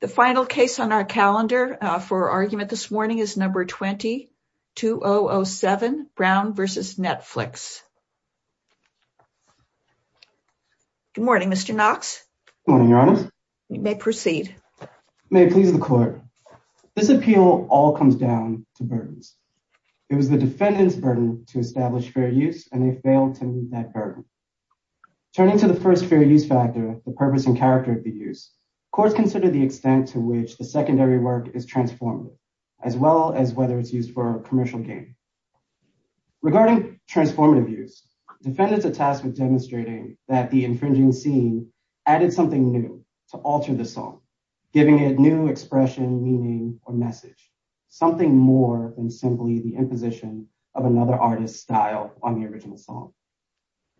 The final case on our calendar for argument this morning is number 20-2007, Brown v. Netflix. Good morning, Mr. Knox. Good morning, Your Honor. You may proceed. May it please the Court. This appeal all comes down to burdens. It was the defendant's burden to establish fair use and they failed to meet that burden. Turning to the first fair use factor, the purpose and character of the use, courts consider the extent to which the secondary work is transformative, as well as whether it's used for commercial gain. Regarding transformative use, defendants are tasked with demonstrating that the infringing scene added something new to alter the song, giving it new expression, meaning, or message. Something more than simply the imposition of another artist's style on the original song.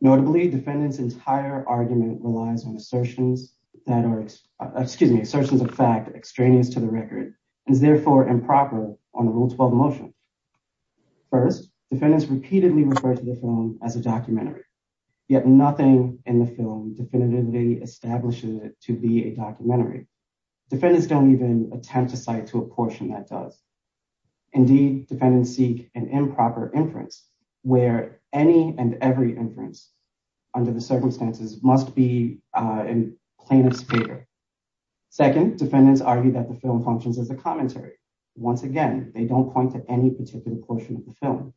Notably, defendant's entire argument relies on assertions of fact extraneous to the record, and is therefore improper on the Rule 12 motion. First, defendants repeatedly refer to the film as a documentary, yet nothing in the film definitively establishes it to be a documentary. Defendants don't even attempt to cite to a portion that does. Indeed, defendants seek an improper inference where any and every inference under the circumstances must be in plaintiff's favor. Second, defendants argue that the film functions as a commentary. Once again, they don't point to any particular portion of the film,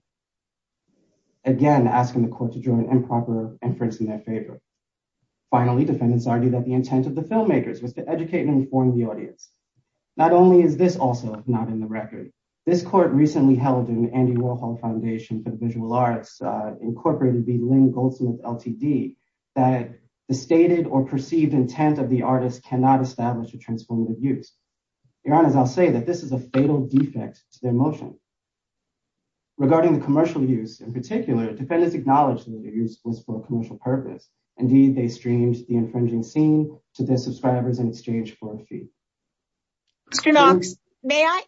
again asking the court to draw an improper inference in their favor. Finally, defendants argue that the intent of the filmmakers was to educate and inform the audience. Not only is this also not in the record, this court recently held an Andy Warhol Foundation for the Visual Arts, incorporated by Lynn Goldsmith, LTD, that the stated or perceived intent of the artist cannot establish a transformative use. Your Honor, I'll say that this is a fatal defect to their motion. Regarding the commercial use in particular, defendants acknowledged that the use was for a commercial purpose. Indeed, they streamed the infringing scene to their subscribers in exchange for a fee. Mr. Knox, may I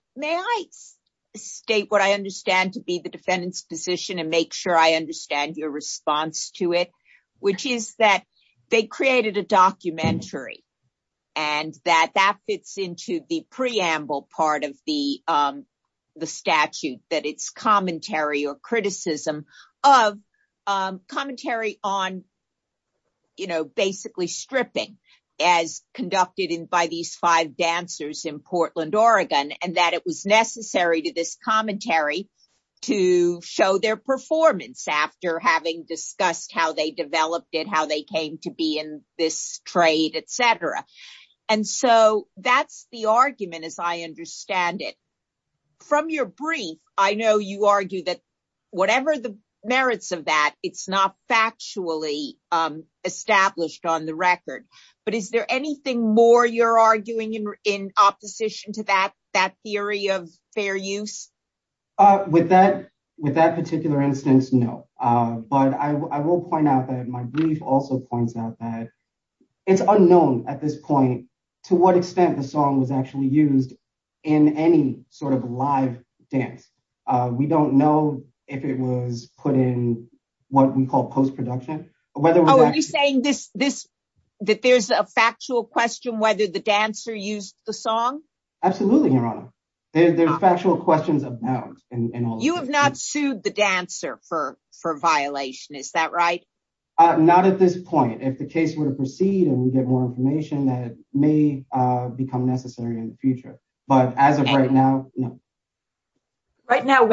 state what I understand to be the defendant's position and make sure I understand your response to it, which is that they created a documentary and that that fits into the preamble part of the statute, that it's commentary or criticism of commentary on basically stripping as conducted by these five dancers in Portland, Oregon, and that it was necessary to this commentary to show their performance after having discussed how they developed it, how they came to be in this trade, etc. And so that's the argument as I understand it. From your brief, I know you argue that whatever the merits of that, it's not factually established on the record. But is anything more you're arguing in opposition to that theory of fair use? With that particular instance, no. But I will point out that my brief also points out that it's unknown at this point to what extent the song was actually used in any sort of live dance. We don't know if it was put in what we call post-production. Are you saying that there's a factual question whether the dancer used the song? Absolutely, Your Honor. There's factual questions about it. You have not sued the dancer for violation, is that right? Not at this point. If the case were to proceed and we get more information, that may become necessary in the future. But as of right now, no. Right now,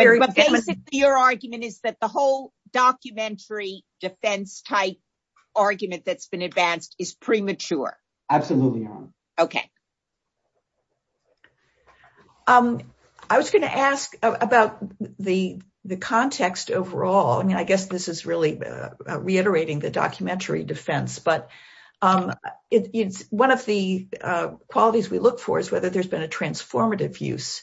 your argument is that the whole documentary defense type argument that's been advanced is premature. Absolutely, Your Honor. Okay. I was going to ask about the context overall. I mean, I guess this is really reiterating the documentary defense. But it's one of the qualities we look for is whether there's been a transformative use.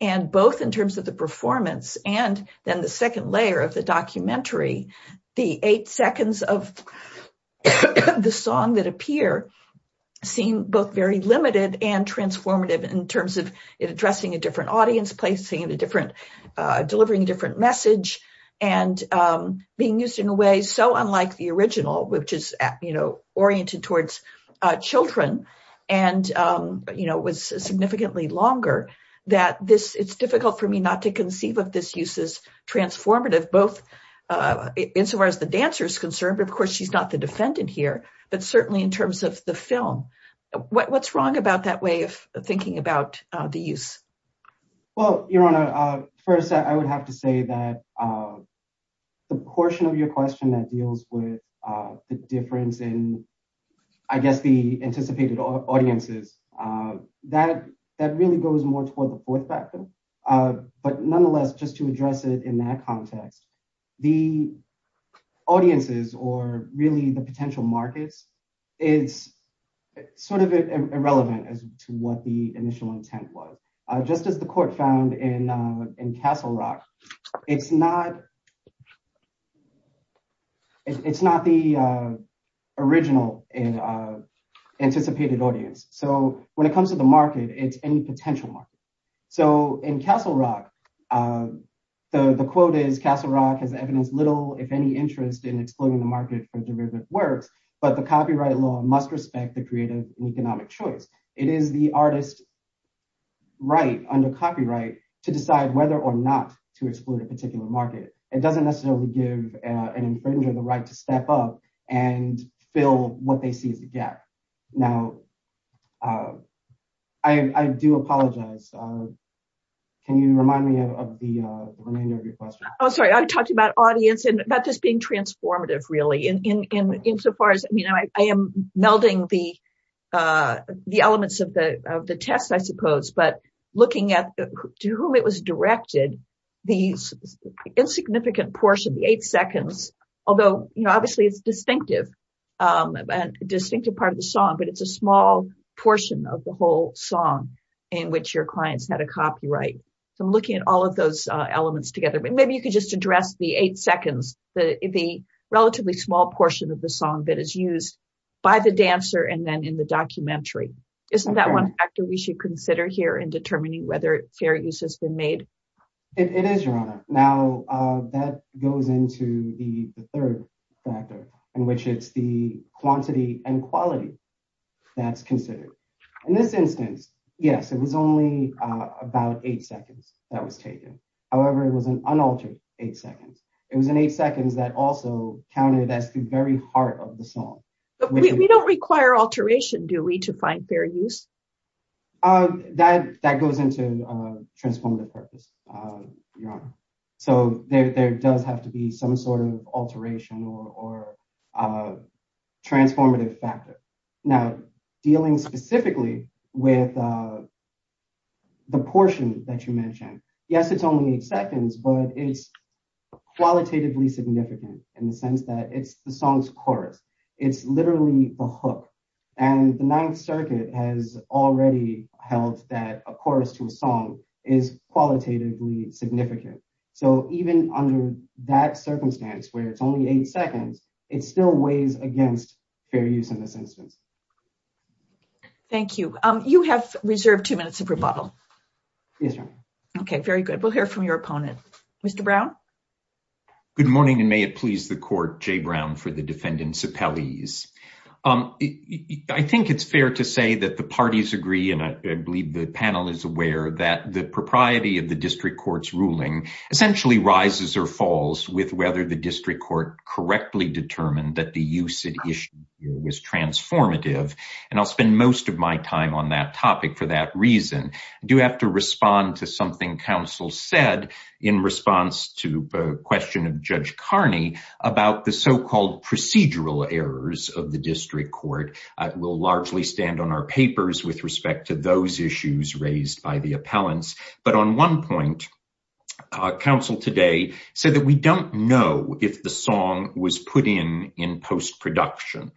Both in terms of the performance and then the second layer of the documentary, the eight seconds of the song that appear seem both very limited and transformative in terms of addressing a different audience, delivering a different message, and being used in a way so that it's difficult for me not to conceive of this use as transformative, insofar as the dancer is concerned. But of course, she's not the defendant here, but certainly in terms of the film. What's wrong about that way of thinking about the use? Well, Your Honor, first, I would have to say that the portion of your question that deals with the difference in, I guess, the anticipated audiences, that really goes more toward the fourth factor. But nonetheless, just to address it in that context, the audiences or really the potential markets is sort of irrelevant as to what the initial intent was. Just as the court found in Castle Rock, it's not the original anticipated audience. So when it comes to the market, it's any potential market. So in Castle Rock, the quote is, Castle Rock has evidence little, if any, interest in exploiting the market for derivative works, but the copyright law must respect the creative and economic choice. It is the artist's right under copyright to decide whether or not to exploit a particular market. It doesn't necessarily give an infringer the right to step up and fill what they see as a gap. Now, I do apologize. Can you remind me of the remainder of your question? Oh, sorry. I talked about audience and about this being transformative, really. I am melding the elements of the test, I suppose, but looking at to whom it was directed these insignificant portion, the eight seconds, although obviously it's a distinctive part of the song, but it's a small portion of the whole song in which your clients had a copyright. So I'm looking at all of those elements together. But maybe you could just address the eight seconds, the relatively small portion of the song that is used by the dancer and then in the documentary. Isn't that one factor we should consider here in determining whether fair use has been made? It is, Your Honor. Now, that goes into the third factor in which it's the quantity and quality that's considered. In this instance, yes, it was only about eight seconds that was taken. However, it was an unaltered eight seconds. It was an eight seconds that also counted as the very heart of the song. We don't require alteration, do we, to find fair use? That goes into transformative purpose, Your Honor. So there does have to be some sort of alteration or transformative factor. Now, dealing specifically with the portion that you mentioned, yes, it's only eight seconds, but it's qualitatively significant in the sense that it's the song's chorus. It's literally the hook. And the Ninth Circuit has already held that a chorus to a song is qualitatively significant. So even under that circumstance where it's only eight seconds, it still weighs against fair use in this instance. Thank you. You have very good. We'll hear from your opponent. Mr. Brown. Good morning, and may it please the court, Jay Brown, for the defendant's appellees. I think it's fair to say that the parties agree, and I believe the panel is aware, that the propriety of the district court's ruling essentially rises or falls with whether the district court correctly determined that the use at issue was transformative. And I'll spend most of my time on that topic for that reason. I do have to respond to something counsel said in response to a question of Judge Carney about the so-called procedural errors of the district court. We'll largely stand on our papers with respect to those issues raised by the appellants. But on one point, counsel today said that we don't know if the song was put in in post-production.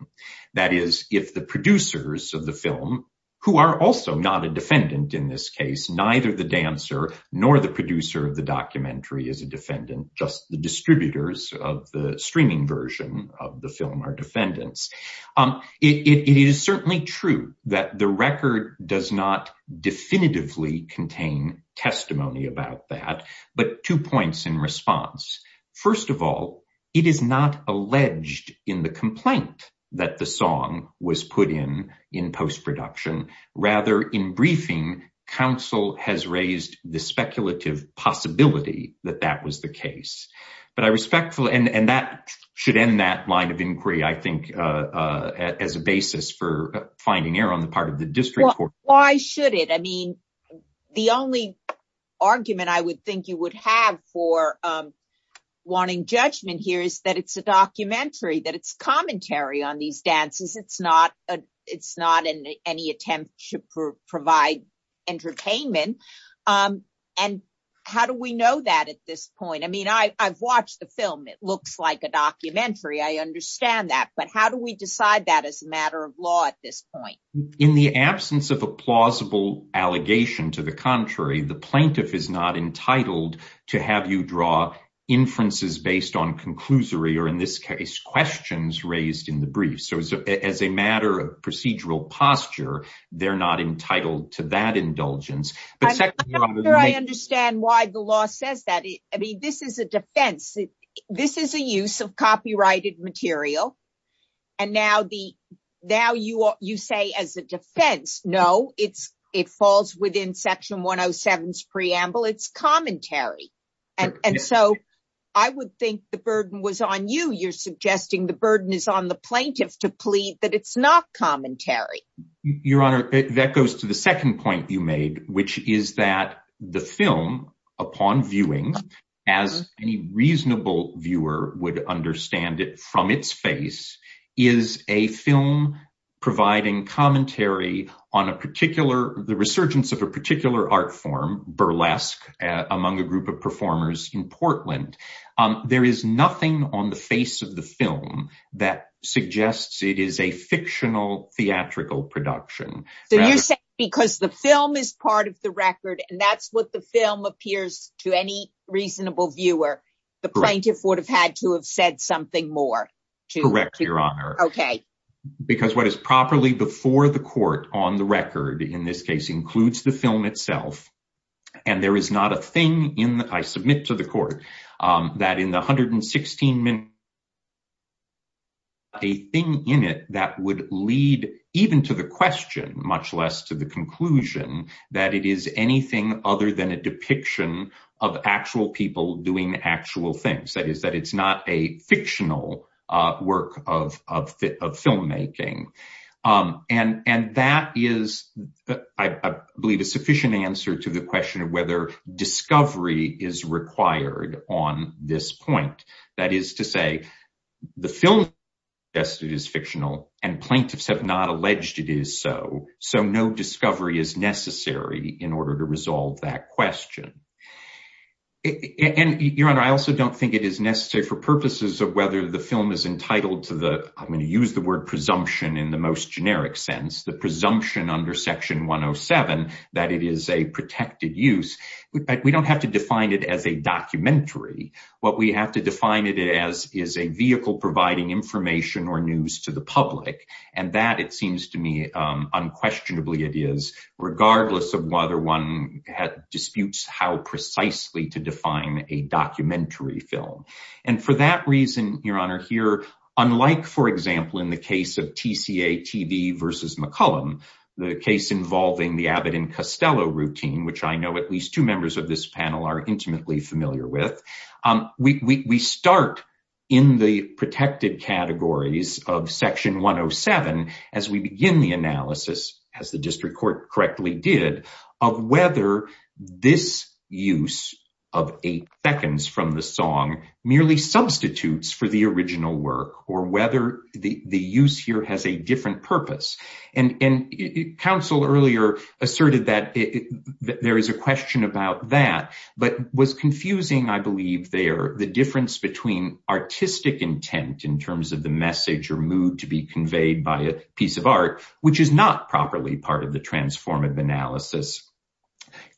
That is, if the producers of the film, who are also not a defendant in this case, neither the dancer nor the producer of the documentary is a defendant, just the distributors of the streaming version of the film are defendants. It is certainly true that the record does not definitively contain testimony about that, but two points in response. First of all, it is not alleged in the complaint that the song was put in, in post-production. Rather, in briefing, counsel has raised the speculative possibility that that was the case. But I respectfully, and that should end that line of inquiry, I think, as a basis for finding error on the part of the district court. Why should it? I mean, the only argument I would think you would have for wanting judgment here is that it's a documentary, that it's commentary on these dances. It's not any attempt to provide entertainment. And how do we know that at this point? I mean, I've watched the film. It looks like a documentary. I understand that. But how do we decide that as a matter of law at this point? In the absence of a plausible allegation to the contrary, the plaintiff is not entitled to have you draw inferences based on conclusory, or in this case, questions raised in the brief. So as a matter of procedural posture, they're not entitled to that indulgence. I'm not sure I understand why the law says that. I mean, this is a defense. This is a use of copyrighted material. And now you say as a defense, no, it falls within Section 107's preamble. It's commentary. And so I would think the burden was on you. You're suggesting the burden is on the plaintiff to plead that it's not commentary. Your Honor, that goes to the second point you made, which is that the film, upon viewing, as any reasonable viewer would understand it from its face, is a film providing commentary on the resurgence of a particular art form, burlesque, among a group of performers in Portland. There is nothing on the face of the film that suggests it is a fictional theatrical production. So you're saying because the film is part of the record, and that's what the film appears to any reasonable viewer, the plaintiff would have had to have said something more. Correct, Your Honor. Okay. Because what is properly before the court on the record, in this case, includes the film itself. And there is not a thing in the, I submit to the court, that in the 116 minutes, a thing in it that would lead even to the question, much less to the conclusion, that it is anything other than a depiction of actual people doing actual things. That is, that it's not a fictional work of filmmaking. And that is, I believe, a sufficient answer to the question of whether discovery is required on this point. That is to say, the film suggests it is fictional, and plaintiffs have not alleged it is so. So no discovery is necessary in order to resolve that question. And, Your Honor, I also don't think it is necessary for purposes of whether the film is entitled to the, I'm going to use the word presumption in the most generic sense, the presumption under Section 107 that it is a protected use. We don't have to define it as a documentary. What we have to define it as is a vehicle providing information or news to the public on how questionable it is, regardless of whether one disputes how precisely to define a documentary film. And for that reason, Your Honor, here, unlike, for example, in the case of TCA TV versus McCullum, the case involving the Abbott and Costello routine, which I know at least two members of this panel are intimately familiar with, we start in the protected categories of analysis, as the district court correctly did, of whether this use of eight seconds from the song merely substitutes for the original work, or whether the use here has a different purpose. And counsel earlier asserted that there is a question about that, but was confusing, I believe, there, the difference between artistic intent in terms of the message or mood to be which is not properly part of the transformative analysis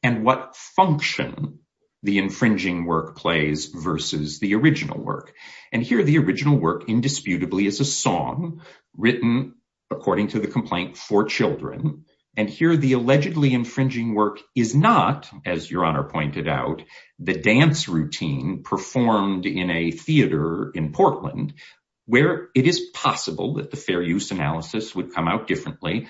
and what function the infringing work plays versus the original work. And here, the original work indisputably is a song written according to the complaint for children. And here, the allegedly infringing work is not, as Your Honor pointed out, the dance routine performed in a theater in Portland, where it is possible that the fair use analysis would come out differently.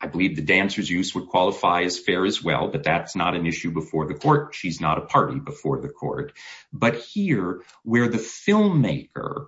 I believe the dancer's use would qualify as fair as well, but that's not an issue before the court. She's not a party before the court. But here, where the filmmaker,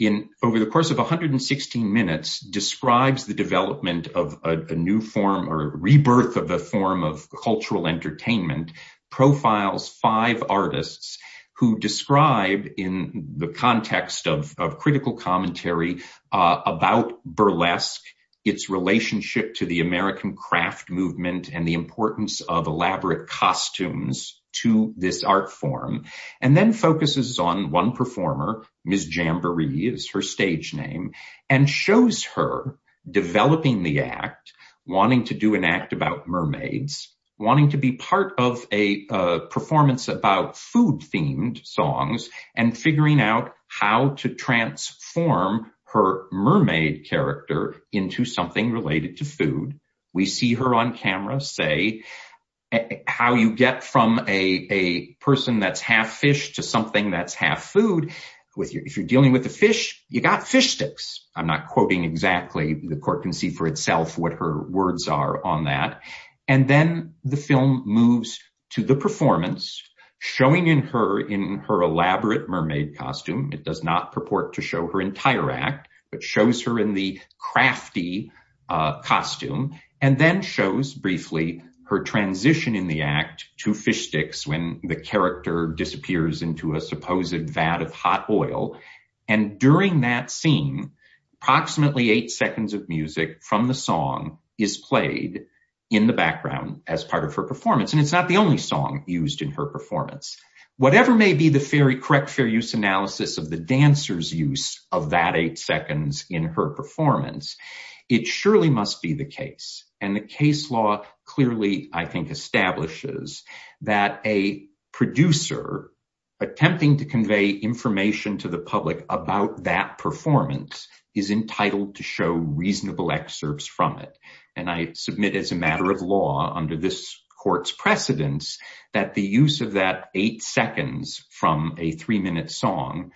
in over the course of 116 minutes, describes the development of a new form or rebirth of the form of cultural entertainment, profiles five artists who described in the context of critical commentary about burlesque, its relationship to the American craft movement and the importance of elaborate costumes to this art form, and then focuses on one performer, Ms. Jamboree is her stage name, and shows her developing the act, wanting to do an act about mermaids, wanting to be part of a performance about food-themed songs, and figuring out how to transform her mermaid character into something related to food. We see her on camera say how you get from a person that's half fish to something that's half food. If you're dealing with the fish, you got fish sticks. I'm not quoting exactly, the court can see for itself what her words are on that. And then the film moves to the performance, showing in her elaborate mermaid costume, it does not purport to show her entire act, but shows her in the crafty costume, and then shows, briefly, her transition in the act to fish sticks when the character disappears into a supposed vat of hot oil. And during that scene, approximately eight seconds of music from the song is played in the background as part of her performance, and it's not the only song used in her performance. Whatever may be the correct fair use analysis of the dancer's use of that eight seconds in her performance, it surely must be the case, and the case law clearly, I think, establishes that a producer attempting to convey information to the public about that performance is entitled to show reasonable excerpts from it. And I submit as a matter of law, under this court's precedence, that the use of that eight seconds from a three-minute song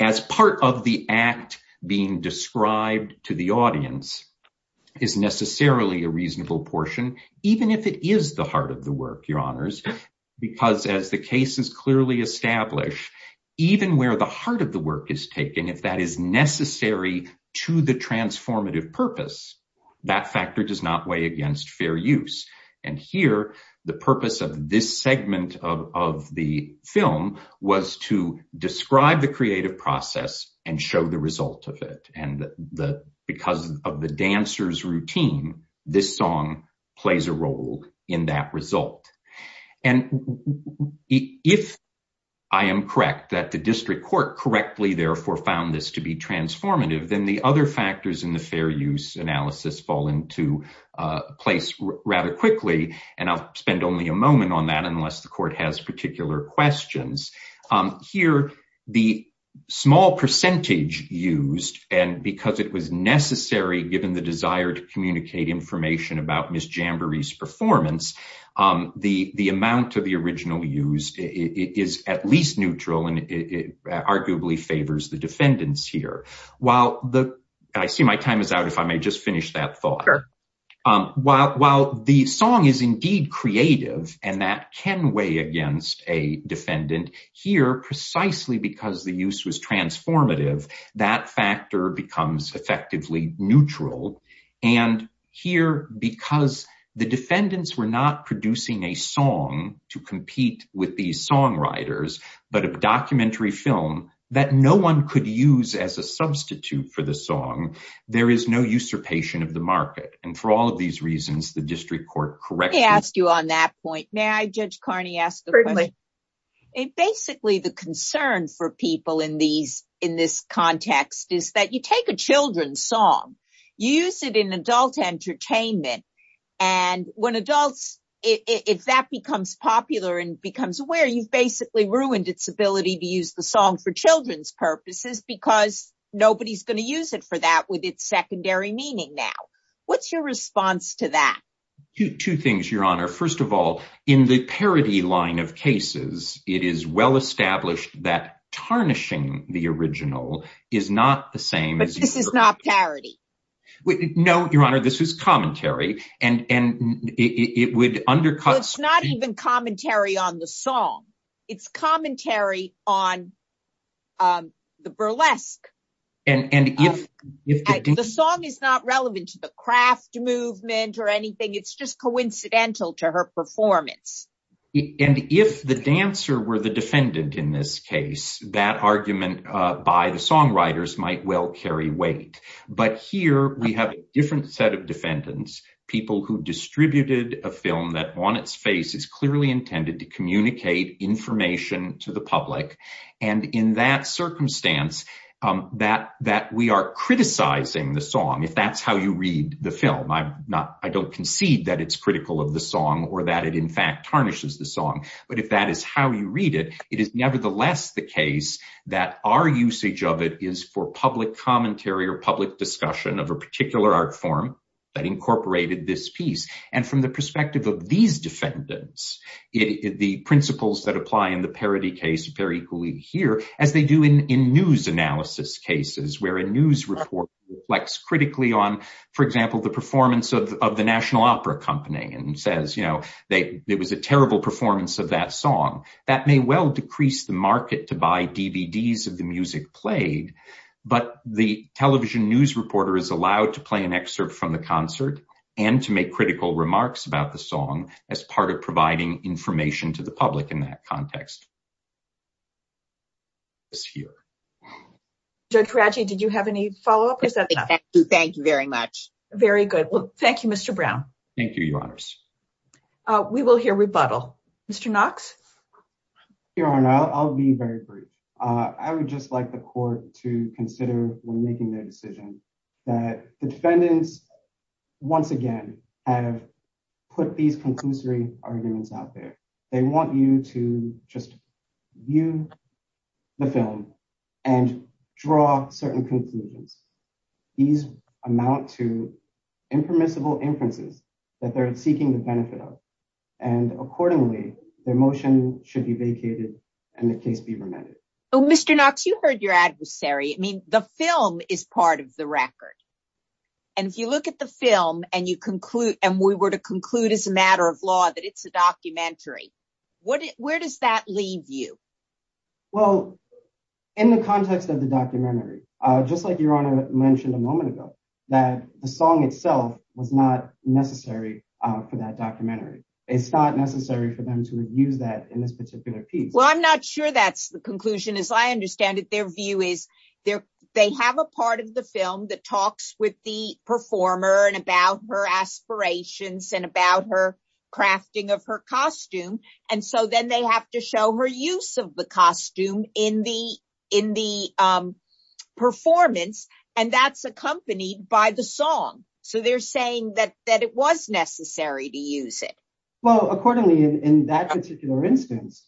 as part of the act being described to the audience is necessarily a reasonable portion, even if it is the heart of the work, Your Honors, because as the case is clearly established, even where the heart of the work is taken, if that is necessary to the transformative purpose, that factor does not weigh against fair use. And here, the purpose of this segment of the film was to describe the creative process and show the result of it, and because of the dancer's routine, this song plays a role in that result. And if I am correct that the district court correctly, therefore, found this to be transformative, then the other factors in the fair use analysis fall into place rather quickly, and I'll spend only a moment on that unless the court has particular questions. Here, the small percentage used, and because it was necessary given the desire to communicate information about Ms. Jamboree's performance, the amount of the original used is at least neutral and arguably favors the defendants here. While the, I see my time is out, if I may just finish that thought. While the song is indeed creative and that can weigh against a defendant, here, precisely because the use was transformative, that factor becomes effectively neutral. And here, because the defendants were not producing a song to compete with these songwriters, but a documentary film that no one could use as a substitute for the song, there is no usurpation of the market. And for all of these reasons, the district court correctly... Let me ask you on that point. May I, Judge Carney, ask the question? Certainly. Basically, the concern for people in this context is that you take a children's song, you use it in adult entertainment, and when adults, if that becomes popular and becomes aware, you've basically ruined its ability to use the song for children's purposes because nobody's going to use it for that with its secondary meaning now. What's your response to that? Two things, Your Honor. First of all, in the parody line of cases, it is well-established that tarnishing the original is not the same as... But this is not parody. No, Your Honor, this is commentary. And it would undercut... The song is not relevant to the craft movement or anything. It's just coincidental to her performance. And if the dancer were the defendant in this case, that argument by the songwriters might well carry weight. But here, we have a different set of defendants, people who distributed a film that on its face is clearly intended to communicate information to the public. And in that circumstance, that we are criticizing the song, if that's how you read the film. I don't concede that it's critical of the song or that it in fact tarnishes the song. But if that is how you read it, it is nevertheless the case that our usage of it is for public commentary or public discussion of a particular art form that incorporated this piece. And from the perspective of these defendants, the principles that apply in the parody case appear equally here as they do in news analysis cases where a news report reflects critically on, for example, the performance of the National Opera Company and says, you know, it was a terrible performance of that song. That may well decrease the market to buy DVDs of the music played. But the television news reporter is allowed to play excerpt from the concert and to make critical remarks about the song as part of providing information to the public in that context. Judge Raji, did you have any follow-up? Thank you very much. Very good. Well, thank you, Mr. Brown. Thank you, Your Honors. We will hear rebuttal. Mr. Knox? Your Honor, I'll be very brief. I would just like the court to once again have put these conclusory arguments out there. They want you to just view the film and draw certain conclusions. These amount to impermissible inferences that they're seeking the benefit of. And accordingly, their motion should be vacated and the case be remanded. Oh, Mr. Knox, you heard your adversary. I mean, the film is part of the record. And if you look at the film and we were to conclude as a matter of law that it's a documentary, where does that leave you? Well, in the context of the documentary, just like Your Honor mentioned a moment ago, that the song itself was not necessary for that documentary. It's not necessary for them to use that in this particular piece. I'm not sure that's the conclusion. As I understand it, their view is they have a part of the film that talks with the performer and about her aspirations and about her crafting of her costume. And so then they have to show her use of the costume in the performance. And that's accompanied by the song. So they're saying that it was necessary to use it. Well, accordingly, in that particular instance,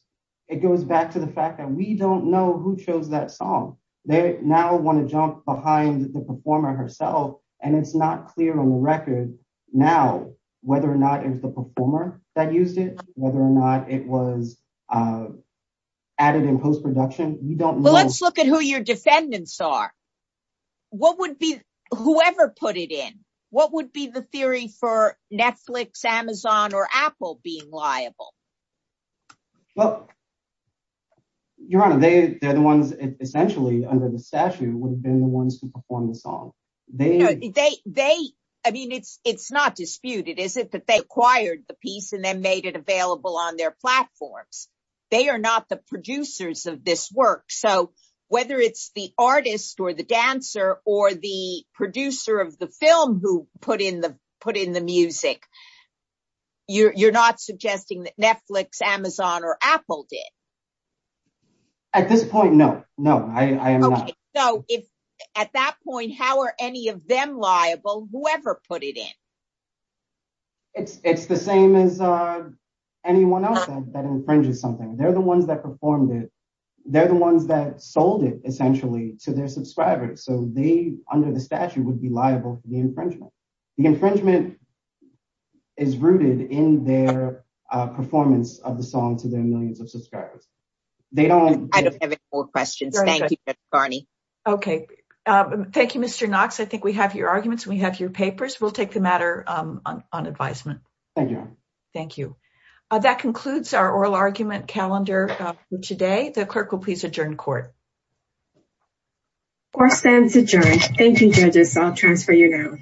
it goes back to the fact that we don't know who chose that song. They now want to jump behind the performer herself. And it's not clear on the record now whether or not it was the performer that used it, whether or not it was added in post-production. Let's look at who your defendants are. Whoever put it in, what would be the theory for Netflix, Amazon, or Apple being liable? Well, Your Honor, they're the ones essentially under the statute would have been the ones who performed the song. I mean, it's not disputed, is it? But they acquired the piece and then made it available on their platforms. They are not the producers of this work. So whether it's the artist or the dancer or the producer of the film who put in the music, you're not suggesting that Netflix, Amazon, or Apple did? At this point, no. No, I am not. Okay. So at that point, how are any of them liable? Whoever put it in? It's the same as anyone else that infringes something. They're the ones that performed it. They're the ones that sold it essentially to their subscribers. So they, under the statute, would be liable for the infringement. The performance of the song to their millions of subscribers. I don't have any more questions. Okay. Thank you, Mr. Knox. I think we have your arguments. We have your papers. We'll take the matter on advisement. Thank you, Your Honor. Thank you. That concludes our oral argument calendar for today. The clerk will please adjourn court. Court stands adjourned. Thank you, judges. I'll transfer you now.